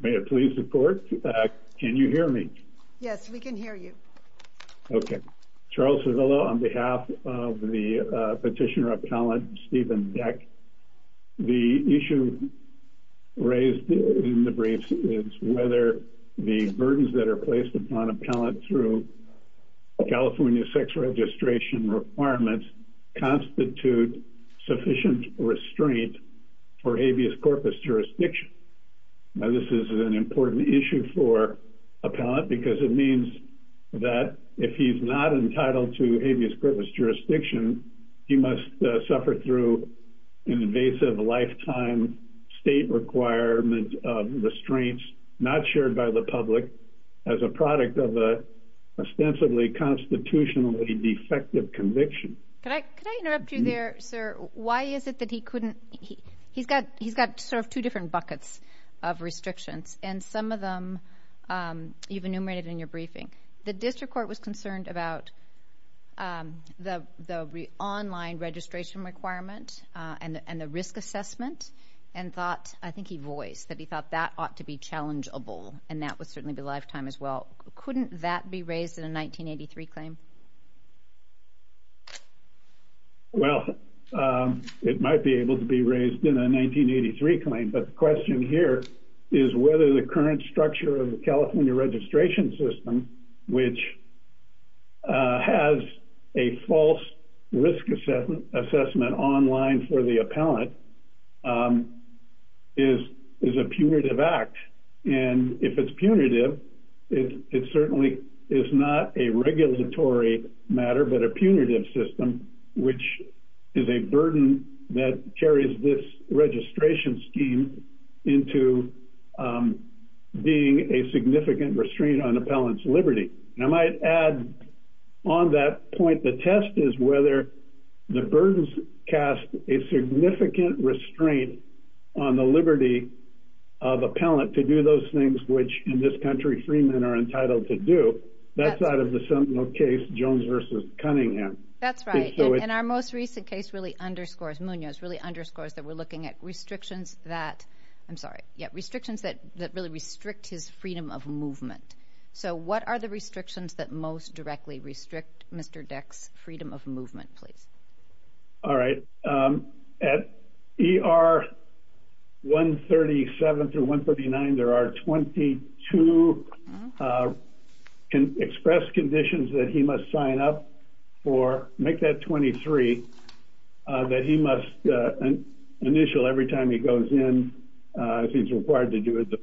Mayor, please report. Can you hear me? Yes, we can hear you. Okay. Charles Cervillo on behalf of the petitioner appellant Stephen Deck. The issue raised in the brief is whether the burdens that are placed upon appellant through California sex registration requirements constitute sufficient restraint for habeas corpus jurisdiction. Now, this is an important issue for appellant because it means that if he's not entitled to habeas corpus jurisdiction, he must suffer through an invasive lifetime state requirement of restraints not shared by the public as a product of an ostensibly constitutionally defective conviction. Could I interrupt you there, sir? Why is it that he couldn't, he's got sort of two different buckets of restrictions and some of them you've enumerated in your briefing. The district court was concerned about the online registration requirement and the risk assessment and thought, I think he voiced, that he thought that ought to be challengeable and that would certainly be lifetime as well. Couldn't that be raised in a 1983 claim? Well, it might be able to be raised in a 1983 claim, but the question here is whether the current structure of the has a false risk assessment online for the appellant is a punitive act. And if it's punitive, it certainly is not a regulatory matter, but a punitive system, which is a burden that carries this registration scheme into being a significant restraint on appellant's liberty. And I might add on that point, the test is whether the burdens cast a significant restraint on the liberty of appellant to do those things which in this country, freemen are entitled to do. That's out of the case Jones versus Cunningham. That's right. And our most recent case really underscores, Munoz really underscores that we're looking at restrictions that, I'm restrictions that most directly restrict Mr. Deck's freedom of movement, please. All right. At ER 137 through 139, there are 22 express conditions that he must sign up for, make that 23, that he must initial every time he goes in, if he's required to do it, the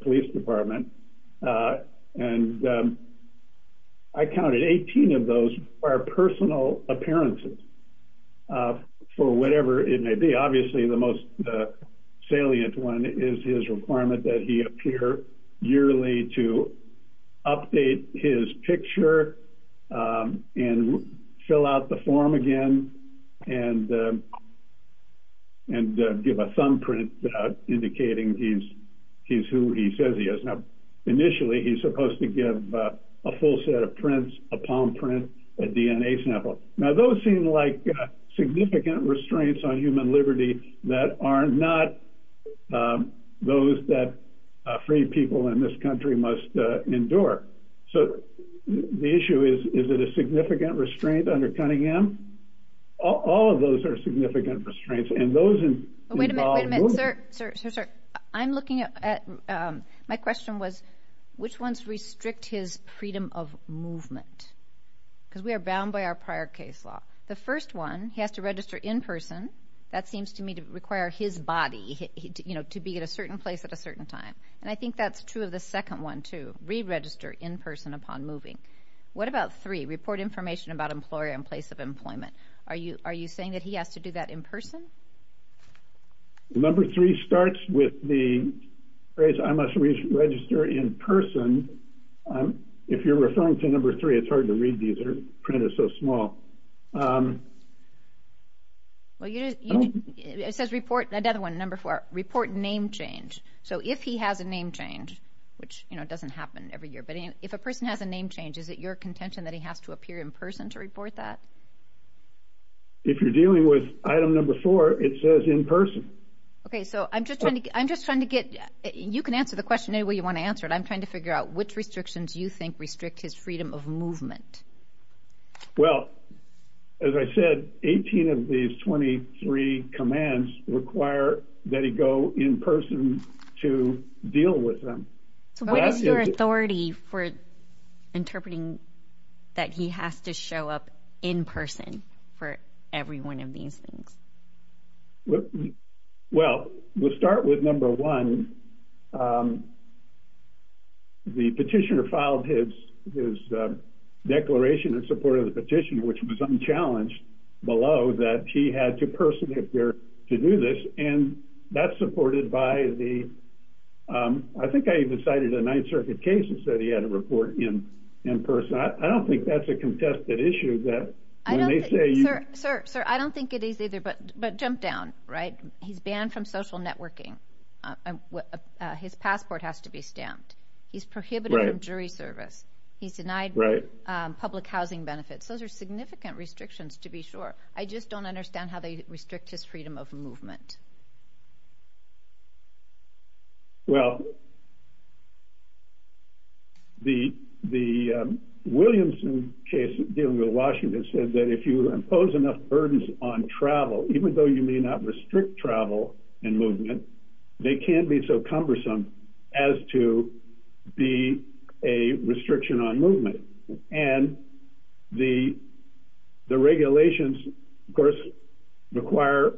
I counted 18 of those are personal appearances for whatever it may be. Obviously, the most salient one is his requirement that he appear yearly to update his picture and fill out the form again and, and give a thumbprint indicating he's, he's who he says he is. Now, initially, he's supposed to give a full set of prints, a palm print, a DNA sample. Now, those seem like significant restraints on human liberty that are not those that free people in this country must endure. So the issue is, is it a significant restraint under Cunningham? All of those are ones restrict his freedom of movement. Because we are bound by our prior case law. The first one, he has to register in person. That seems to me to require his body, you know, to be at a certain place at a certain time. And I think that's true of the second one to re-register in person upon moving. What about three report information about employer in place of employment? Are you are you saying that he has to do that in person? Number three starts with the phrase, I must register in person. If you're referring to number three, it's hard to read these, their print is so small. Well, it says report, another one, number four, report name change. So if he has a name change, which, you know, doesn't happen every year, but if a person has a name change, is it your contention that he has to appear in person to report that? If you're dealing with item number four, it says in person. Okay, so I'm just trying to I'm just trying to get you can answer the question any way you want to answer it. I'm trying to figure out which restrictions you think restrict his freedom of movement. Well, as I said, 18 of these 23 commands require that he go in person to deal with them. So what is your authority for interpreting that he has to show up in person for every one of these things? Well, we'll start with number one. The petitioner filed his his declaration in support of the petition, which was unchallenged below that he had to personally appear to do this. And that's supported by the I think I even cited a Ninth Circuit cases that he had to report in in person. I don't think that's a contested issue that Sir, sir, I don't think it is either. But But jump down, right? He's banned from social networking. His passport has to be stamped. He's prohibited from jury service. He's denied public housing benefits. Those are significant restrictions to be I just don't understand how they restrict his freedom of movement. Well, the the Williamson case dealing with Washington said that if you impose enough burdens on travel, even though you may not restrict travel and movement, they can't be so cumbersome as to be a restriction on movement and the the regulations, of course, require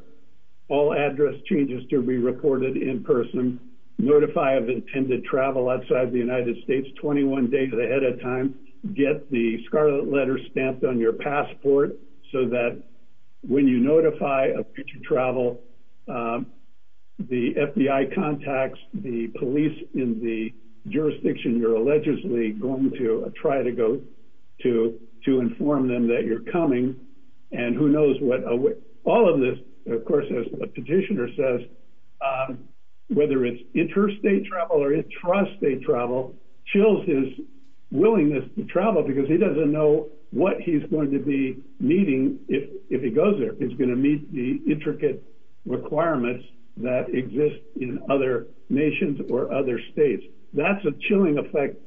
all address changes to be reported in person notify of intended travel outside the United States 21 days ahead of time, get the scarlet letter stamped on your passport, so that when you notify of future travel, the FBI contacts the police in the jurisdiction, you're allegedly going to try to go to to inform them that you're coming. And who knows what all of this, of course, as a petitioner says, whether it's interstate travel or intrastate travel chills his willingness to travel because he doesn't know what he's going to be meeting if if he goes there, it's going to meet the intricate requirements that exist in other nations or other states. That's a chilling effect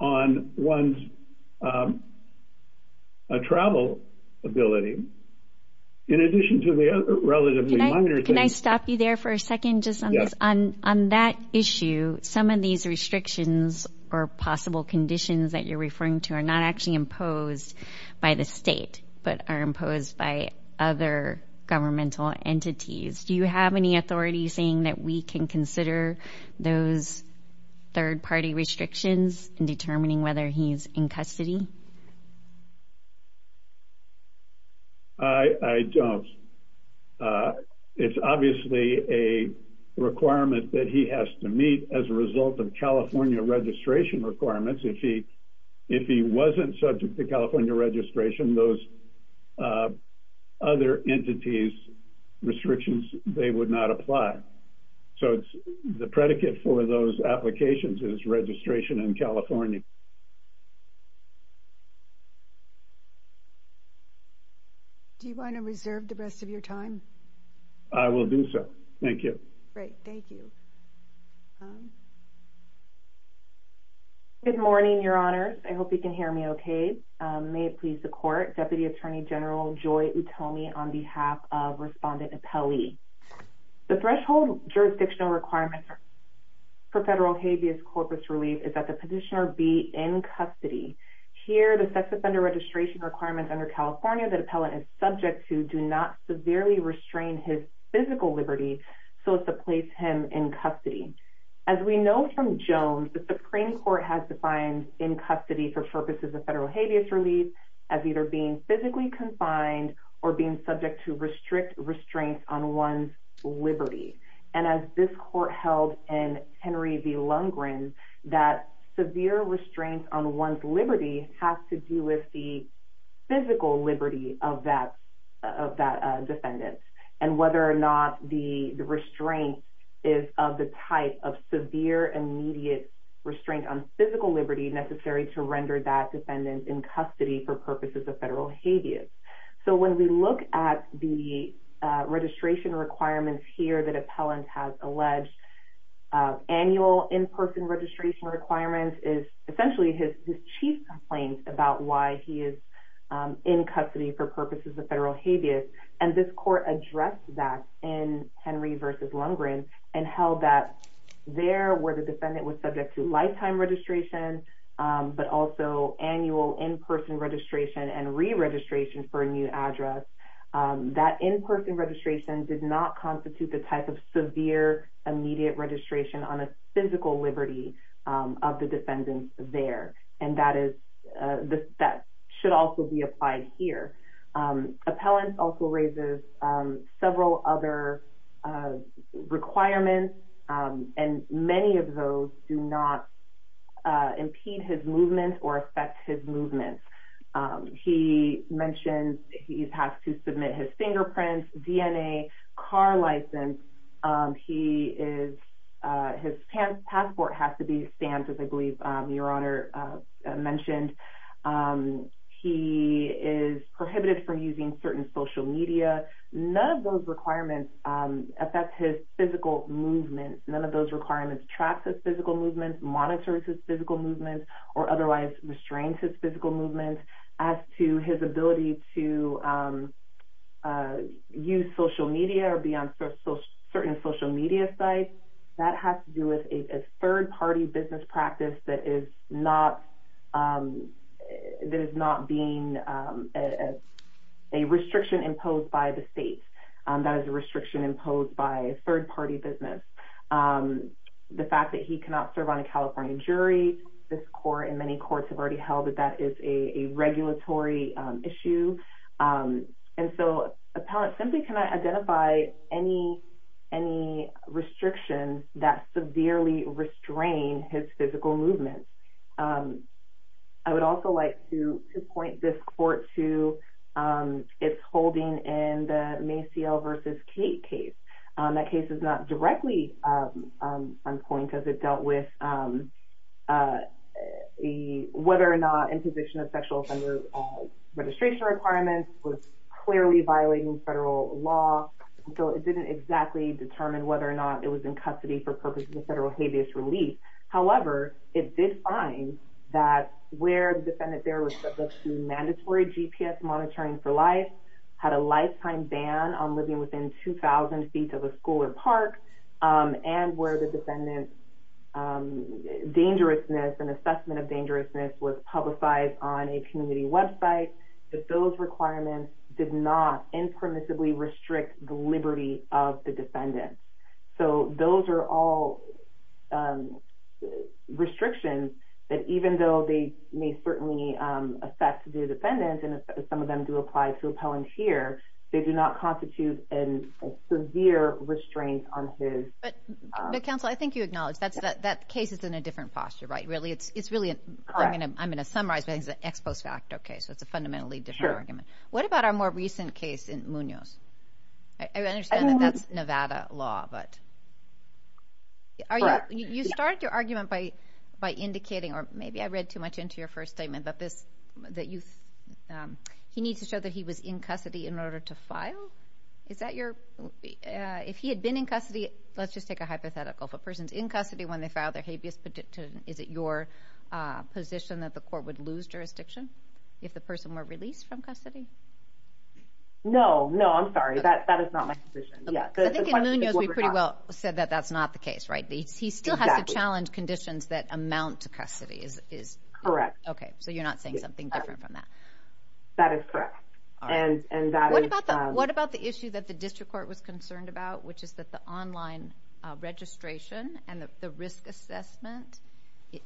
on one's travel ability. In addition to the other relatively minor, can I stop you there for a second just on this on on that issue, some of these restrictions or possible conditions that you're referring to are not actually imposed by the state, but are imposed by other governmental entities. Do you have any authority saying that we can consider those third party restrictions in determining whether he's in custody? I don't. It's obviously a requirement that he has to meet as a result of California registration requirements. If he if he wasn't subject to California registration, those other entities restrictions, they would not apply. So it's the predicate for those applications is registration in California. Do you want to reserve the rest of your time? I will do so. Thank you. Great. Thank you. Good morning, Your Honors. I hope you can hear me okay. May it please the court. Deputy Attorney General Joy Utomi on behalf of Respondent Appellee. The threshold jurisdictional requirements for federal habeas corpus relief is that the petitioner be in custody. Here, the sex offender registration requirements under California that appellant is subject to do not severely restrain his physical liberty so as to place him in custody. As we know from Jones, the Supreme Court has defined in custody for purposes of federal habeas relief as either being physically confined or being subject to restrict restraints on one's liberty. And as this court held in Henry v. Lundgren, that severe restraints on one's liberty has to do with the physical liberty of that defendant and whether or not the restraint is of the type of severe immediate restraint on physical liberty necessary to render that defendant in custody for purposes of federal habeas. So when we look at the registration requirements here that appellant has alleged, annual in-person registration requirements is essentially his chief complaint about why he is in custody for purposes of federal habeas. And this court addressed that in Henry v. Lundgren and held that there where the defendant was subject to lifetime registration but also annual in-person registration and re-registration for a new address, that in-person registration did not constitute the type of severe immediate registration on a physical liberty of the defendant there. And that should also be applied here. Appellant also raises several other requirements and many of those do not impede his movement or affect his movement. He mentions he has to submit his fingerprints, DNA, car license, his passport has to be stamped as I believe Your Honor mentioned. He is prohibited from using certain social media. None of those requirements affect his physical movement. None of those requirements track his physical movement, monitor his physical movement or otherwise restrain his physical movement. And as to his ability to use social media or be on certain social media sites, that has to do with a third-party business practice that is not being a restriction imposed by the states. That is a restriction imposed by a third-party business. The fact that he cannot serve on a California jury, this court and many courts have already held that that is a regulatory issue. And so appellant simply cannot identify any restrictions that severely restrain his physical movement. I would also like to point this court to its holding in the Maciel v. Kate case. That case is not directly on point as it dealt with whether or not imposition of sexual offender registration requirements was clearly violating federal law. So it didn't exactly determine whether or not it was in custody for purposes of federal habeas relief. However, it did find that where the defendant there was subject to mandatory GPS monitoring for life, had a lifetime ban on living within 2,000 feet of a school or park, and where the defendant's dangerousness and assessment of dangerousness was publicized on a community website, that those requirements did not impermissibly restrict the liberty of the defendant. So those are all restrictions that even though they may certainly affect the defendant, and some of them do apply to appellant here, they do not constitute a severe restraint on his... But counsel, I think you acknowledge that case is in a different posture, right? Really, it's really... I'm going to summarize it as an ex post facto case. So it's a fundamentally different argument. What about our more recent case in Munoz? I understand that that's Nevada law, but... Correct. You started your argument by indicating, or maybe I read too much into your first statement, that he needs to show that he was in custody in order to file? Is that your... If he had been in custody, let's just take a hypothetical. If a person's in custody when they filed their habeas petition, is it your position that the court would lose jurisdiction if the person were released from custody? No, no, I'm sorry. That is not my position. I think in Munoz we pretty well said that that's not the case, right? He still has to challenge conditions that amount to custody. Correct. Okay, so you're not saying something different from that. That is correct. What about the issue that the district court was concerned about, which is that the online registration and the risk assessment,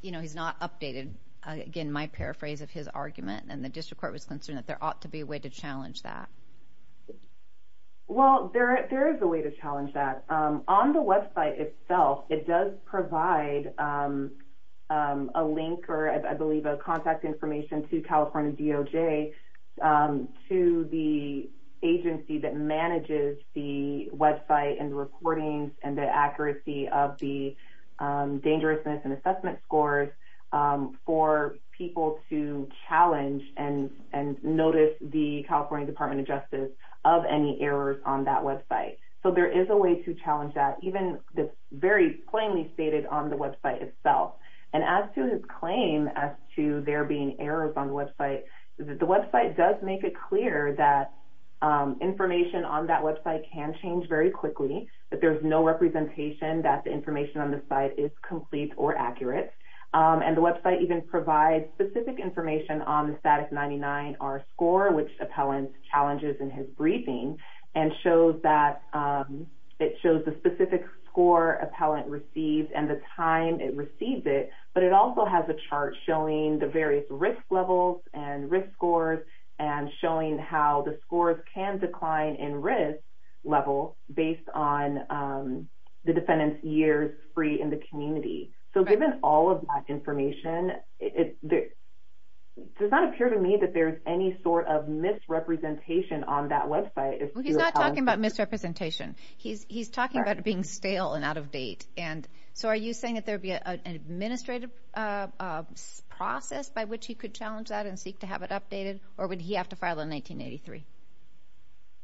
you know, he's not updated. Again, my paraphrase of his argument, and the district court was concerned that there ought to be a way to challenge that. Well, there is a way to challenge that. On the website itself, it does provide a link or, I believe, a contact information to California DOJ to the agency that manages the website and the recordings and the accuracy of the dangerousness and assessment scores for people to challenge and notice the California Department of Justice of any errors on that website. So there is a way to challenge that, even very plainly stated on the website itself. And as to his claim as to there being errors on the website, the website does make it clear that information on that website can change very quickly, that there's no representation that the information on the site is complete or accurate. And the website even provides specific information on the STATUS-99-R score, which appellant challenges in his briefing, and it shows the specific score appellant received and the time it received it, but it also has a chart showing the various risk levels and risk scores and showing how the scores can decline in risk level based on the defendant's years free in the community. So given all of that information, it does not appear to me that there's any sort of misrepresentation on that website. He's not talking about misrepresentation. He's talking about it being stale and out of date. So are you saying that there would be an administrative process by which he could challenge that and seek to have it updated, or would he have to file in 1983?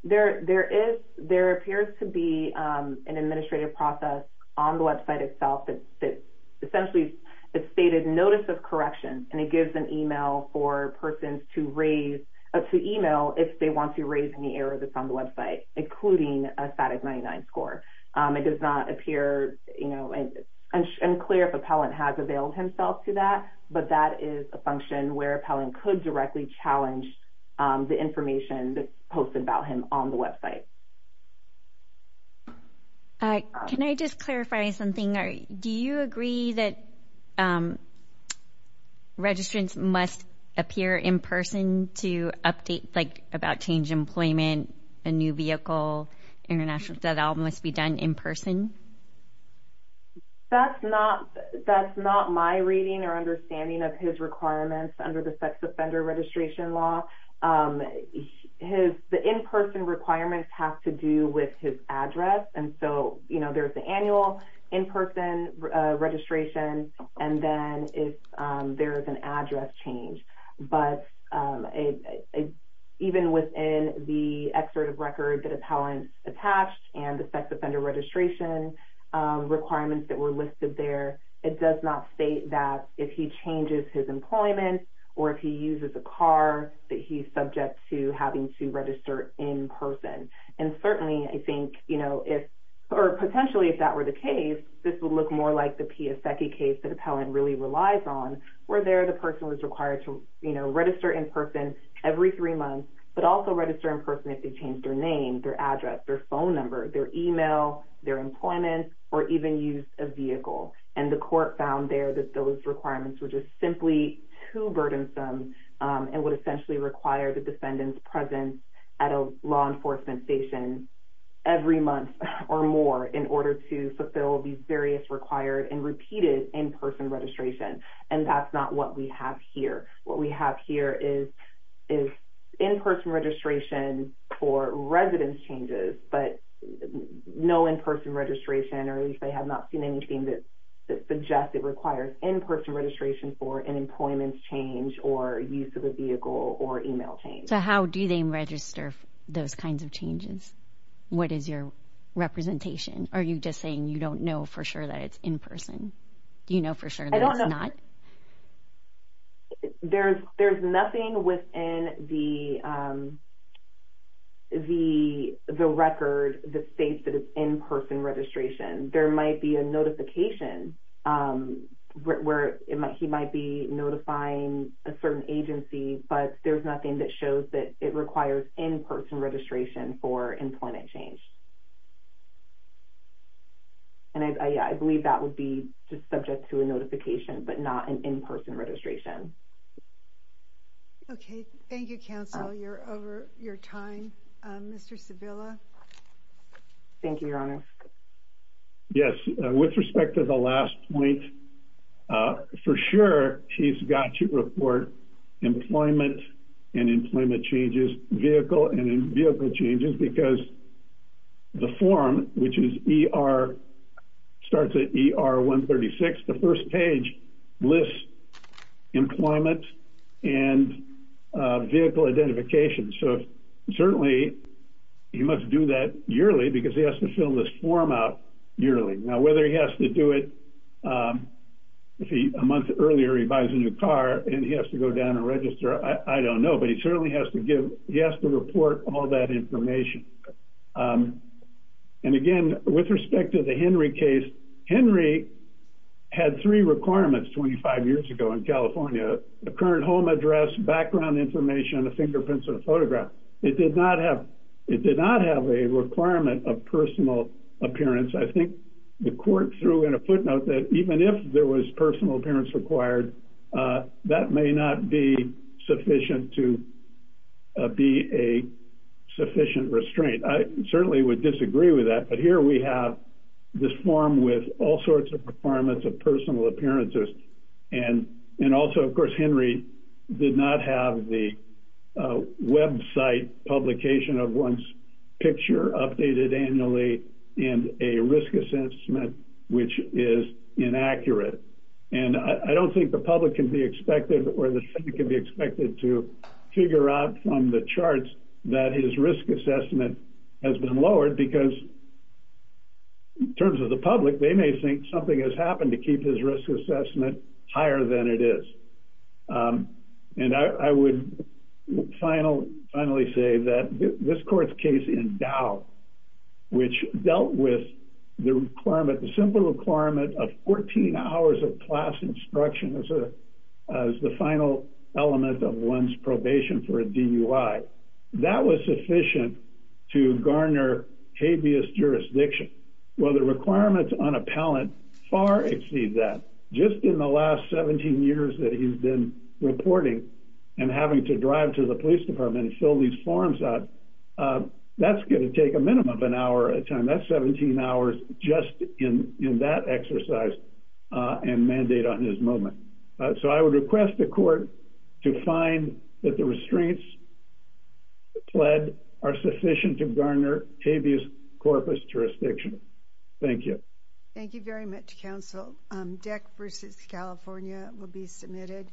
There appears to be an administrative process on the website itself that essentially it's stated notice of correction, and it gives an email for persons to email if they want to raise any errors that's on the website, including a STATUS-99 score. It does not appear unclear if appellant has availed himself to that, but that is a function where appellant could directly challenge the information that's posted about him on the website. Can I just clarify something? Do you agree that registrants must appear in person to update, like, about change employment, a new vehicle, that all must be done in person? That's not my reading or understanding of his requirements under the sex offender registration law. The in-person requirements have to do with his address, and so there's the annual in-person registration, and then there's an address change. But even within the excerpt of record that appellant attached and the sex offender registration requirements that were listed there, it does not state that if he changes his employment or if he uses a car, that he's subject to having to register in person. And certainly, I think, you know, if or potentially if that were the case, this would look more like the Piasecki case that appellant really relies on, where there the person was required to, you know, register in person every three months, but also register in person if they changed their name, their address, their phone number, their email, their employment, or even use a vehicle. And the court found there that those requirements were just simply too burdensome and would essentially require the defendant's presence at a law enforcement station every month or more in order to fulfill these various required and repeated in-person registration. And that's not what we have here. What we have here is in-person registration for residence changes, but no in-person registration or at least I have not seen anything that suggests it requires in-person registration for an employment change or use of a vehicle or email change. So how do they register those kinds of changes? What is your representation? Are you just saying you don't know for sure that it's in person? Do you know for sure that it's not? I don't know. There's nothing within the record that states that it's in-person registration. There might be a notification where he might be notifying a certain agency, but there's nothing that shows that it requires in-person registration for employment change. And I believe that would be just subject to a notification, but not an in-person registration. Okay. Thank you, counsel. You're over your time. Mr. Sevilla? Thank you, Your Honor. Yes. With respect to the last point, for sure he's got to report employment and employment changes, vehicle and vehicle changes, because the form, which starts at ER 136, the first page lists employment and vehicle identification. So certainly he must do that yearly because he has to fill this form out yearly. Now, whether he has to do it a month earlier, he buys a new car, and he has to go down and register, I don't know. But he certainly has to report all that information. And, again, with respect to the Henry case, Henry had three requirements 25 years ago in California, a current home address, background information, a fingerprint, and a photograph. It did not have a requirement of personal appearance. I think the court threw in a footnote that even if there was personal appearance required, that may not be sufficient to be a sufficient restraint. I certainly would disagree with that. But here we have this form with all sorts of requirements of personal appearances. And also, of course, Henry did not have the website publication of one's picture updated annually and a risk assessment, which is inaccurate. And I don't think the public can be expected or the Senate can be expected to figure out from the charts that his risk assessment has been lowered because, in terms of the public, they may think something has happened to keep his risk assessment higher than it is. And I would finally say that this court's case in Dow, which dealt with the requirement, the simple requirement of 14 hours of class instruction as the final element of one's probation for a DUI, that was sufficient to garner habeas jurisdiction. Well, the requirements on appellant far exceed that. Just in the last 17 years that he's been reporting and having to drive to the police department and fill these forms out, that's going to take a minimum of an hour at a time. That's 17 hours just in that exercise and mandate on his moment. So I would request the court to find that the restraints pled are sufficient to garner habeas corpus jurisdiction. Thank you. Thank you very much, counsel. DEC versus California will be submitted.